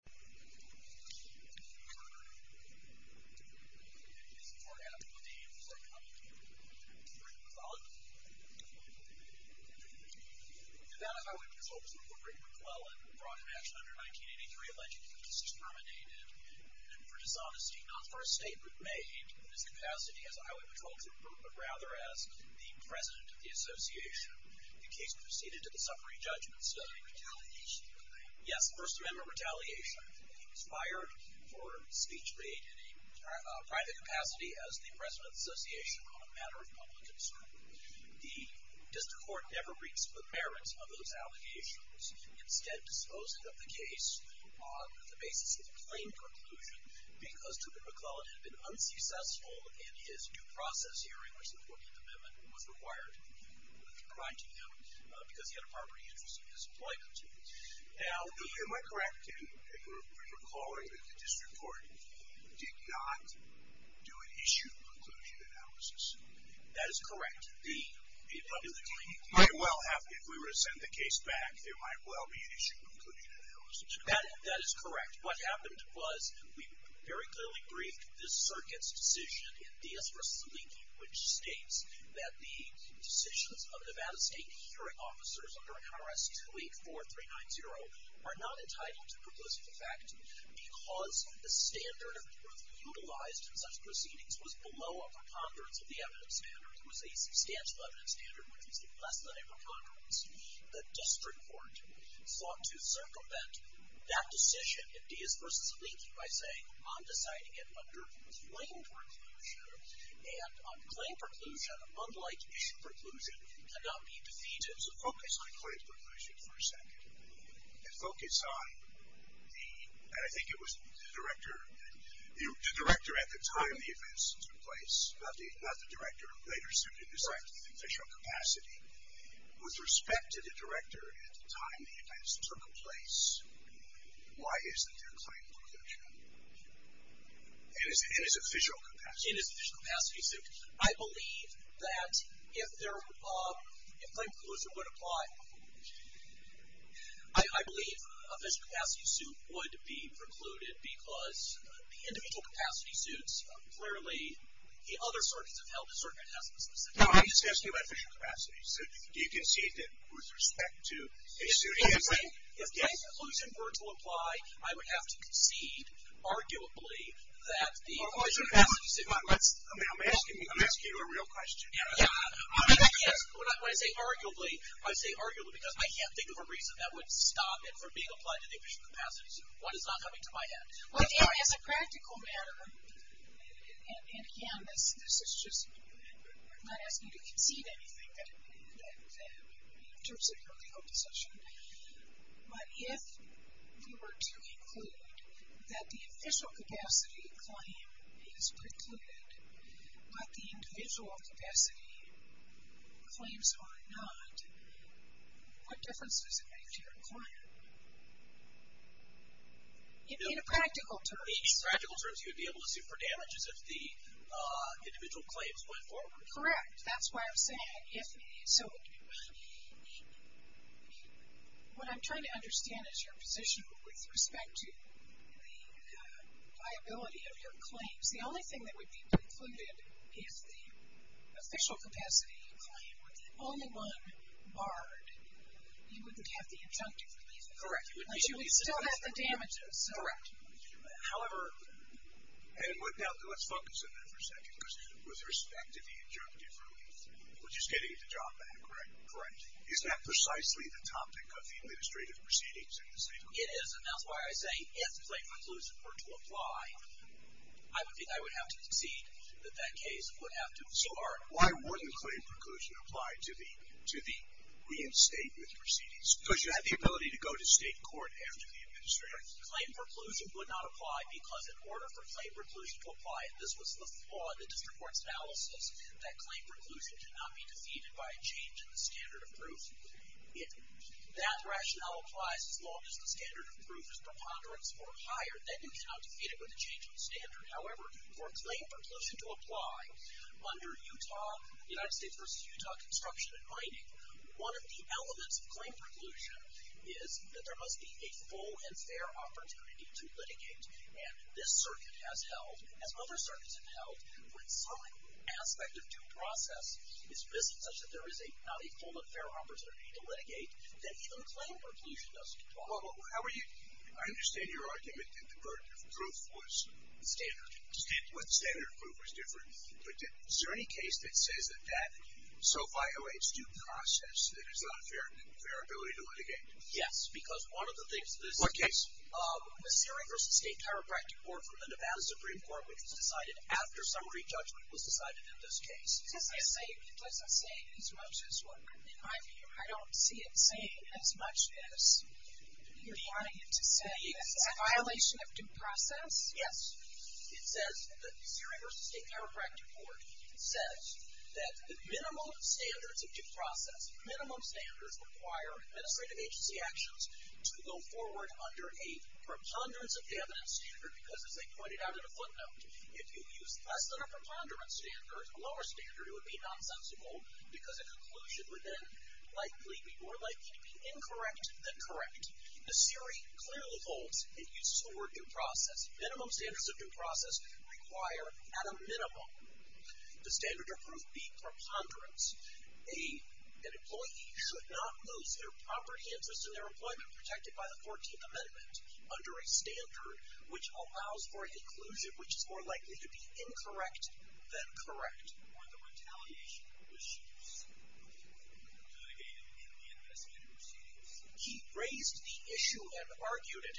The Van Nuys Highway Patrol was one of the great McLellan who brought to action under 1983 a legend whose case was terminated for dishonesty, not for a statement made in his capacity as a Highway Patrol Trooper, but rather as the President of the Association. The case proceeded to the Suffering Judgment Study. Yes, First Amendment retaliation. He was fired for speech made in a private capacity as the President of the Association on a matter of public concern. The District Court never reached for the merits of those allegations, instead disposing of the case on the basis of a plain conclusion because Truman McLellan had been unsuccessful in his due process hearing, which the 14th Amendment was required to provide to him because he had a property interest in his employment. Am I correct in recalling that the District Court did not do an issued conclusion analysis? That is correct. If we were to send the case back, there might well be an issued conclusion analysis. That is correct. What happened was we very clearly briefed this circuit's decision in Diaz v. Zaliki, which states that the decisions of Nevada State Hearing Officers under IRS 284390 are not entitled to propositive effect because the standard of proof utilized in such proceedings was below a preponderance of the evidence standard. It was a substantial evidence standard, which was less than a preponderance. The District Court sought to circumvent that decision in Diaz v. Zaliki by saying, I'm deciding it under a plain preclusion, and on a plain preclusion, unlike issued preclusion, cannot be defeated. So focus on a plain preclusion for a second. And focus on the, and I think it was the director, the director at the time the events took place, not the director who later sued in this act with official capacity. With respect to the director at the time the events took place, why isn't there a plain preclusion? And is it official capacity? It is official capacity suit. I believe that if there, if plain preclusion would apply, I believe official capacity suit would be precluded because the individual capacity suits clearly, the other circuits have held the circuit has the specificity. No, I'm just asking about official capacity suit. Do you concede that with respect to a suit? If plain preclusion were to apply, I would have to concede arguably that the official capacity suit. I'm asking you a real question. When I say arguably, I say arguably because I can't think of a reason that would stop it from being applied to the official capacity suit. One is not coming to my head. As a practical matter, and again, this is just, I'm not asking you to concede anything in terms of your legal position, but if you were to conclude that the official capacity claim is precluded, but the individual capacity claims are not, what difference does it make to your client? In practical terms. In practical terms, you would be able to sue for damages if the individual claims went forward. Correct. That's why I'm saying if, so what I'm trying to understand is your position with respect to the liability of your claims. The only thing that would be precluded is the official capacity claim with only one barred. You wouldn't have the injunctive relief. Correct. But you would still have the damages. Correct. However, and let's focus on that for a second because with respect to the injunctive relief, which is getting the job done, correct? Correct. Isn't that precisely the topic of the administrative proceedings in this case? It is, and that's why I say if the claim preclusion were to apply, I would think I would have to concede that that case would have to start. So why wouldn't the claim preclusion apply to the reinstatement proceedings? Because you have the ability to go to state court after the administrative. The claim preclusion would not apply because in order for claim preclusion to apply, and this was the flaw in the district court's analysis, that claim preclusion cannot be defeated by a change in the standard of proof. If that rationale applies as long as the standard of proof is preponderance or higher, then you cannot defeat it with a change in the standard. However, for claim preclusion to apply under Utah, United States v. Utah construction and mining, one of the elements of claim preclusion is that there must be a full and fair opportunity to litigate, and this circuit has held, as other circuits have held, when some aspect of due process is missed, such that there is not a full and fair opportunity to litigate, then even claim preclusion doesn't qualify. I understand your argument that the burden of proof was standard. Standard proof was different. But is there any case that says that that so violates due process that there's not a fair ability to litigate? Yes, because one of the things that is— What case? The Surrey v. State Chiropractic Court from the Nevada Supreme Court, which was decided after summary judgment was decided in this case. Does that say as much as what— In my view, I don't see it saying as much as you're trying to say. Is it a violation of due process? Yes. It says—The Surrey v. State Chiropractic Court says that the minimum standards of due process, minimum standards require administrative agency actions to go forward under a preponderance of evidence standard because, as they pointed out in a footnote, if you use less than a preponderance standard, a lower standard, it would be nonsensical because a conclusion would then likely be more likely to be incorrect than correct. The Surrey clearly holds. It uses the word due process. Minimum standards of due process require, at a minimum, the standard of proof be preponderance. An employee should not lose their property interest in their employment protected by the 14th Amendment under a standard which allows for an inclusion which is more likely to be incorrect than correct. Were the retaliation issues litigated in the investigative proceedings? He raised the issue and argued it.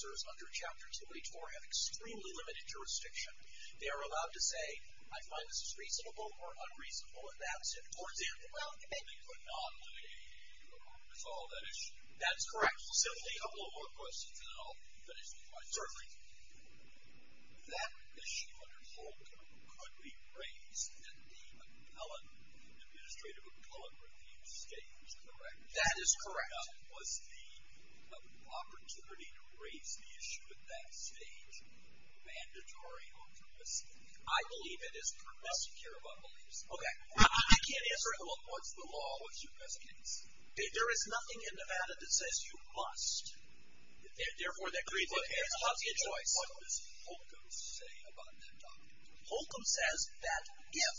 Under Chapter 284 have extremely limited jurisdiction. They are allowed to say, I find this is reasonable or unreasonable, and that's it. Or they are allowed to make— They could not litigate or resolve that issue. That's correct. We'll simply— A couple more questions, and then I'll finish the question. Certainly. That issue under Holcomb could be raised in the appellate, administrative appellate review statements, correct? That is correct. Was the opportunity to raise the issue at that stage mandatory or permissive? I believe it is permissive. I don't care about beliefs. Okay. I can't answer it. Well, what's the law? What's your best case? There is nothing in Nevada that says you must. Therefore, that creates a choice. What does Holcomb say about that doctrine? Holcomb says that if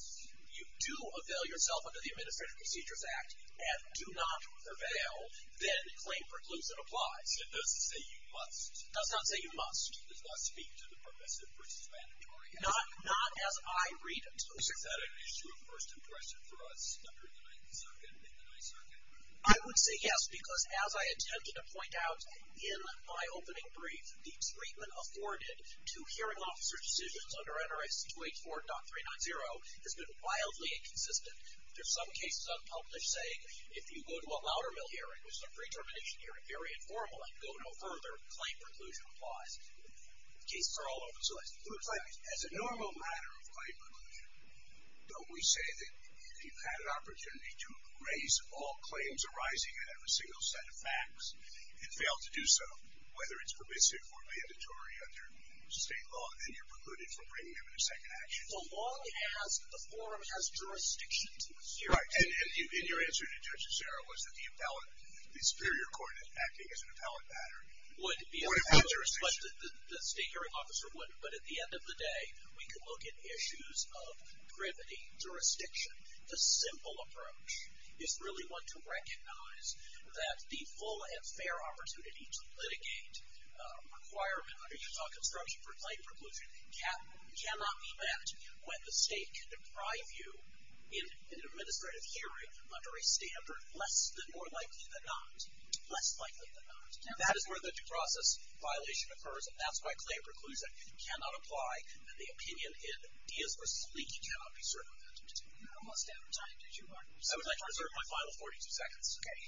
you do avail yourself under the Administrative Procedures Act and do not avail, then claim precludes and applies. It doesn't say you must. It does not say you must. It does not speak to the permissive versus mandatory act. Not as I read it. Is that an issue of first impression for us under the 9th Circuit and the 9th Circuit? I would say yes, because as I intended to point out in my opening brief, the treatment afforded to hearing officer decisions under NRS 284.390 has been wildly inconsistent. There are some cases unpublished saying if you go to a louder mill hearing, which is a free term admission hearing, very informal, and go no further, claim preclusion applies. Cases are all over the place. It looks like as a normal matter of claim preclusion, don't we say that if you've had an opportunity to raise all claims arising in a single set of facts and fail to do so, whether it's permissive or mandatory under state law, then you're precluded from bringing them into second action. As long as the forum has jurisdiction to hear it. Right. And your answer to Judge O'Shara was that the appellate, the superior court acting as an appellate matter would have jurisdiction. The state hearing officer would. But at the end of the day, we could look at issues of privity, jurisdiction. The simple approach is really one to recognize that the full and fair opportunity to litigate a requirement under Utah construction for claim can only be met when the state can deprive you in an administrative hearing under a standard less than or likely than not. Less likely than not. And that is where the process violation occurs. And that's why claim preclusion cannot apply. And the opinion in Diaz v. Leakey cannot be served on that. We're almost out of time. I would like to reserve my final 42 seconds. Okay.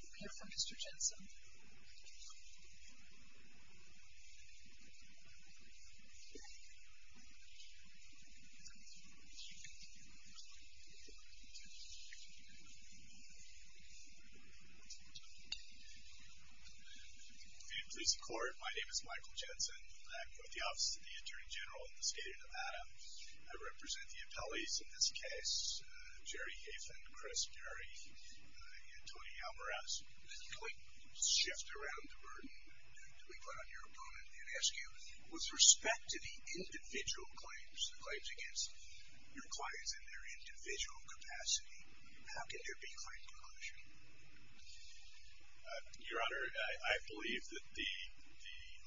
Be careful, Mr. Jensen. Good evening, police and court. My name is Michael Jensen. I'm with the Office of the Attorney General in the state of Nevada. I represent the appellees in this case. Jerry Hafen, Chris Gary, and Tony Alvarez. Can we shift around the burden that we put on your opponent and ask you, with respect to the individual claims, the claims against your clients in their individual capacity, how can there be claim preclusion? Your Honor, I believe that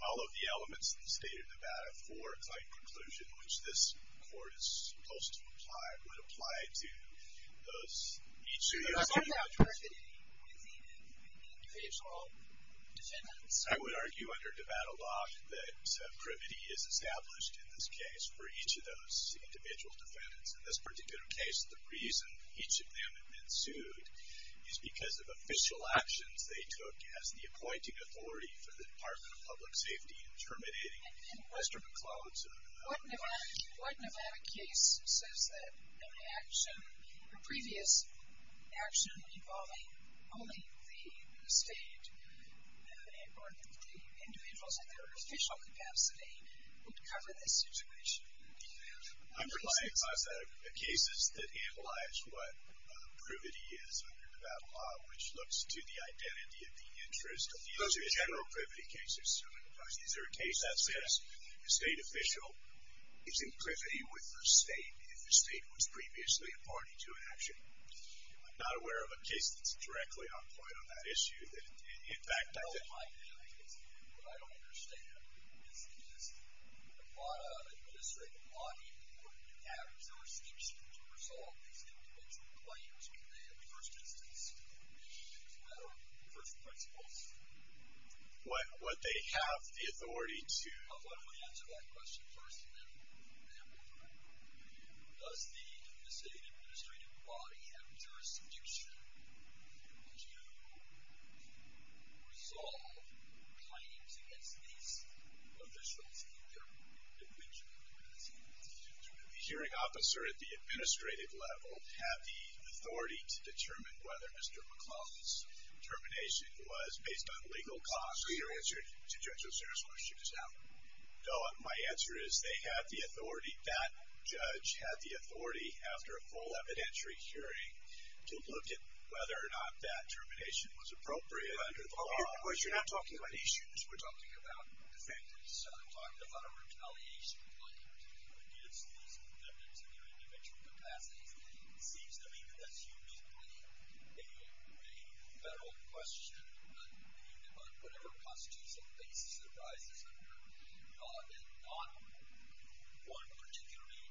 all of the elements in the state of Nevada for each of those individual defendants. I would argue under Nevada law that privity is established in this case for each of those individual defendants. In this particular case, the reason each of them had been sued is because of official actions they took as the appointing authority for the Department of Public Safety in terminating Mr. McCloskey. What Nevada case says that an action, a previous action involving only the state or the individuals in their official capacity would cover this situation? I'm relying on cases that analyze what privity is under Nevada law, which looks to the identity of the interest of the individual. Those are general privity cases. Is there a case that says the state official is in privity with the state if the state was previously a party to an action? I'm not aware of a case that's directly on point on that issue. In fact, I think... No, in my view, what I don't understand is Nevada administrative law being important to have. Is there a scheme to resolve these individual claims when they, in the first instance, would be a matter of first principles? What they have the authority to... I want to answer that question first and then move on. Does the state administrative body have jurisdiction to resolve claims against these officials in their individual capacity? Would the hearing officer at the administrative level have the authority to determine whether Mr. McClellan's termination was based on legal cause? So your answer to Judge Osiris' question is no. No, my answer is they had the authority, that judge had the authority after a full evidentiary hearing to look at whether or not that termination was appropriate under the law. You're not talking about issues. We're talking about defendants. I'm talking about a retaliation point against these defendants in their individual capacity. It seems to me that that's uniquely a federal question, not being about whatever constitutional basis it arises under, and not one particularly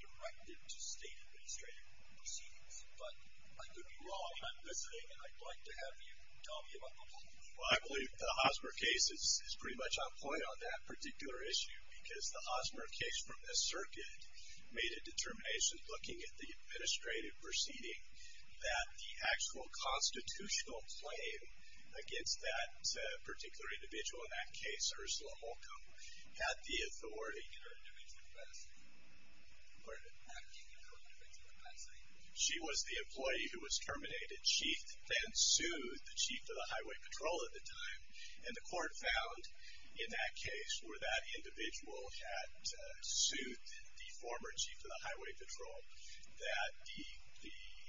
directed to state administrative proceedings. But I could be wrong. I'm listening, and I'd like to have you tell me about the law. Well, I believe the Hosmer case is pretty much on point on that particular issue because the Hosmer case from this circuit made a determination, looking at the administrative proceeding, that the actual constitutional claim against that particular individual, in that case, Ursula Holcomb, had the authority. In her individual capacity. Pardon? In her individual capacity. She was the employee who was terminated. She then sued the chief of the highway patrol at the time, and the court found, in that case, where that individual had sued the former chief of the highway patrol, that the individual,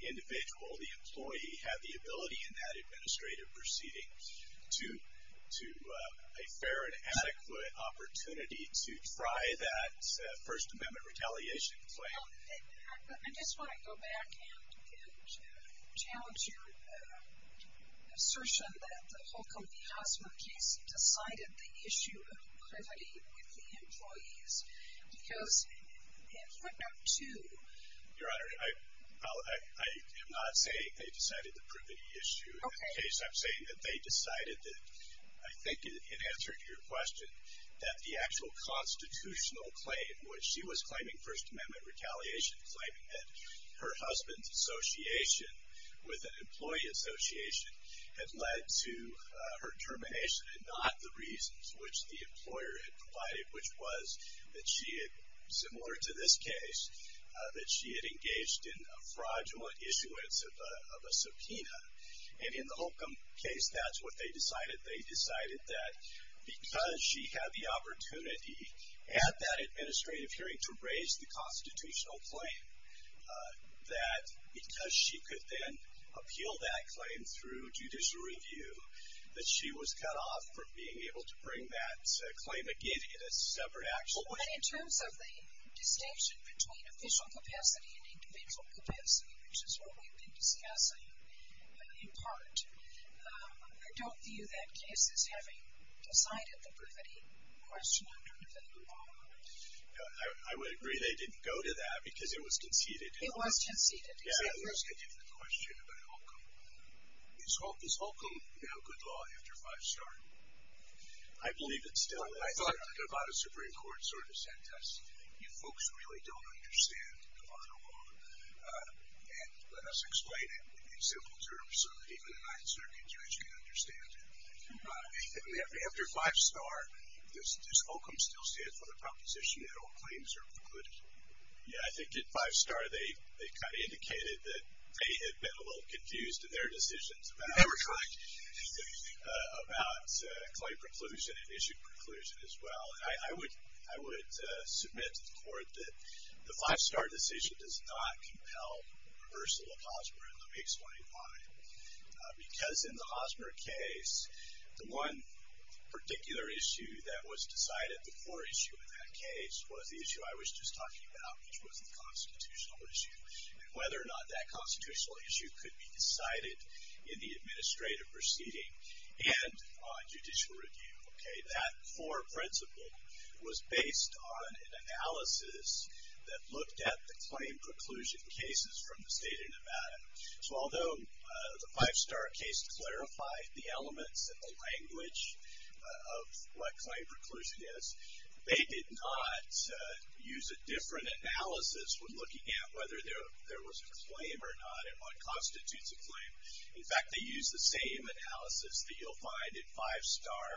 the employee, had the ability in that administrative proceeding to a fair and adequate opportunity to try that First Amendment retaliation claim. I just want to go back and challenge your assertion that the Holcomb and the Hosmer case decided the issue of privity with the employees. Because in point number two. Your Honor, I am not saying they decided the privity issue. In that case, I'm saying that they decided that, I think in answer to your question, that the actual constitutional claim, which she was claiming First Amendment retaliation, claiming that her husband's association with an employee association had led to her termination and not the reasons which the employer had provided, which was that she had, similar to this case, that she had engaged in a fraudulent issuance of a subpoena. And in the Holcomb case, that's what they decided. They decided that because she had the opportunity at that administrative hearing to raise the constitutional claim, that because she could then appeal that claim through judicial review, that she was cut off from being able to bring that claim again in a separate action. But in terms of the distinction between official capacity and individual capacity, which is what we've been discussing in part, I don't view that case as having decided the privity question under the law. I would agree they didn't go to that because it was conceded. It was conceded. Yeah, it was a different question about Holcomb. Is Holcomb now good law after five-star? I believe it's still. I thought the Nevada Supreme Court sort of said to us, you folks really don't understand Nevada law. And let us explain it in simple terms so that even the Ninth Circuit judge can understand it. After five-star, does Holcomb still stand for the proposition that all claims are precluded? Yeah, I think at five-star, they kind of indicated that they had been a little confused in their decisions about claim preclusion and issue preclusion as well. And I would submit to the court that the five-star decision does not compel reversal of Hossmer. And let me explain why. Because in the Hossmer case, the one particular issue that was decided, the core issue in that case, was the issue I was just talking about, which was the constitutional issue, and whether or not that constitutional issue could be decided in the administrative proceeding and on judicial review. That core principle was based on an analysis that looked at the claim preclusion cases from the state of Nevada. So although the five-star case clarified the elements and the language of what claim preclusion is, they did not use a different analysis when looking at whether there was a claim or not on constitutes of claim. In fact, they used the same analysis that you'll find in five-star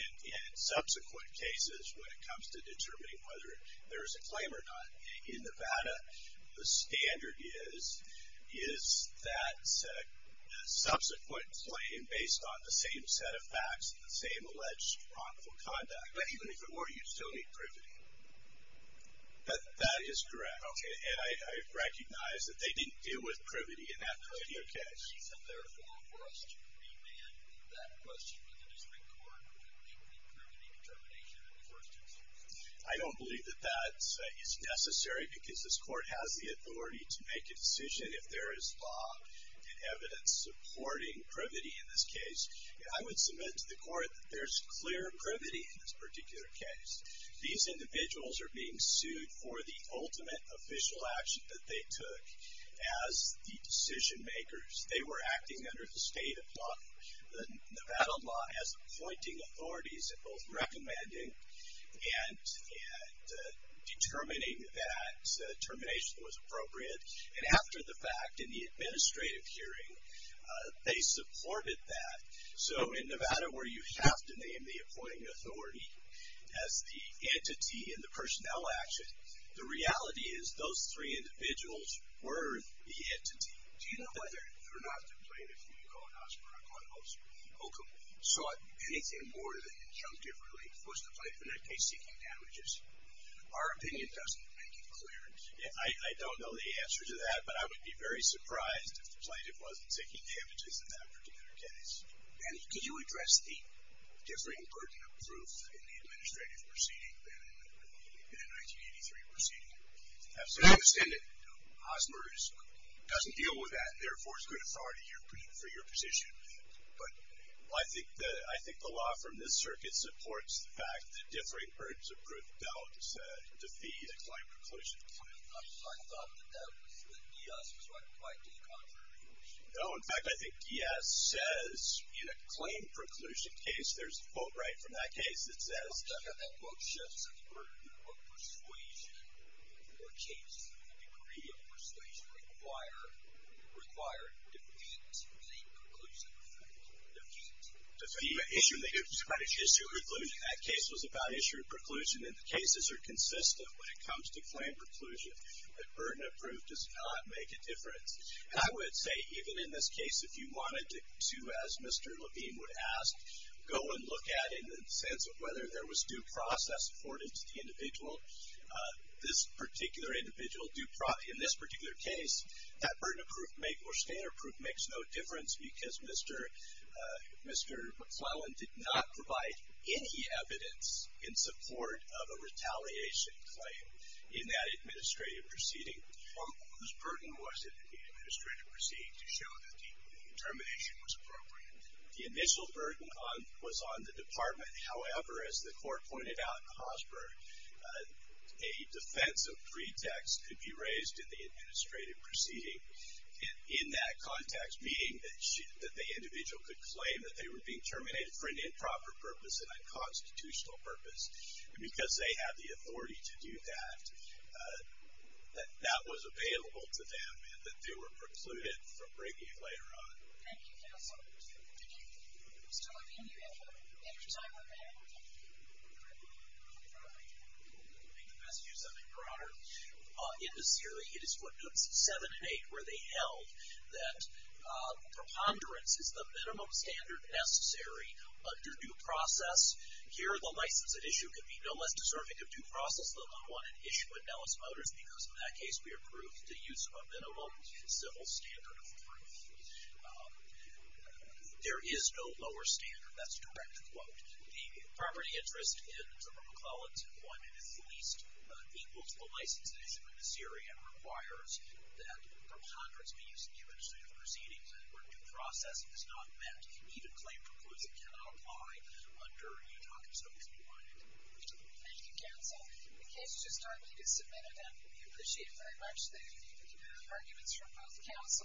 in subsequent cases when it comes to determining whether there is a claim or not in Nevada. The standard is, is that subsequent claim based on the same set of facts and the same alleged wrongful conduct. But even if it were, you'd still need privity. That is correct. Okay. And I recognize that they didn't deal with privity in that particular case. Is it, therefore, for us to remand that question to the district court, which would include privity determination in the first instance? I don't believe that that is necessary because this court has the authority to make a decision if there is law and evidence supporting privity in this case. I would submit to the court that there's clear privity in this particular case. These individuals are being sued for the ultimate official action that they took as the decision makers. They were acting under the state of Nevada law as appointing authorities and both recommending and determining that termination was appropriate. And after the fact, in the administrative hearing, they supported that. So in Nevada, where you have to name the appointing authority as the entity in the personnel action, the reality is those three individuals were the entity. Do you know whether or not the plaintiff, I call it Hosmer, Hocum, sought anything more than injunctive related to the plaintiff in that case seeking damages? Our opinion doesn't make it clear. I don't know the answer to that, but I would be very surprised if the plaintiff wasn't taking damages in that particular case. And could you address the differing burden of proof in the administrative proceeding than in the 1983 proceeding? Absolutely. I understand that Hosmer doesn't deal with that, for your position, but I think the law from this circuit supports the fact that differing burdens of proof don't defeat acclaimed preclusion. I thought that that was, that Diaz was right quite to the contrary. No, in fact, I think Diaz says in a claimed preclusion case, there's a quote right from that case that says, that quote shifts the burden of persuasion or case. The degree of persuasion required, or defeat claimed preclusion. Defeat. Issue of preclusion. That case was about issue of preclusion, and the cases are consistent when it comes to claimed preclusion. That burden of proof does not make a difference. And I would say even in this case, if you wanted to, as Mr. Levine would ask, go and look at it in the sense of whether there was due process afforded to the individual, this particular individual, in this particular case, that burden of proof makes, or standard of proof makes no difference because Mr. McClellan did not provide any evidence in support of a retaliation claim in that administrative proceeding. Whose burden was it in the administrative proceeding to show that the determination was appropriate? The initial burden was on the department. However, as the court pointed out in Hosbur, a defensive pretext could be raised in the administrative proceeding. In that context, meaning that the individual could claim that they were being terminated for an improper purpose, an unconstitutional purpose. And because they have the authority to do that, that that was available to them, and that they were precluded from bringing it later on. Thank you, Counsel. Did Mr. Levine, you have a better time with that? I think the best use of it, Your Honor, in this hearing, it is Footnotes 7 and 8 where they held that preponderance is the minimum standard necessary under due process. Here, the license at issue could be no less deserving of due process than the one we approved the use of a minimum civil standard of proof. There is no lower standard. That's a direct quote. The property interest in Zephyr McClellan's employment is at least equal to the license at issue in this area and requires that preponderance be used in the administrative proceedings where due process is not met. Even claim preclusion cannot apply under the documents that we provided. Thank you, Counsel. The case is just starting to get submitted and we appreciate very much the arguments from both counsels.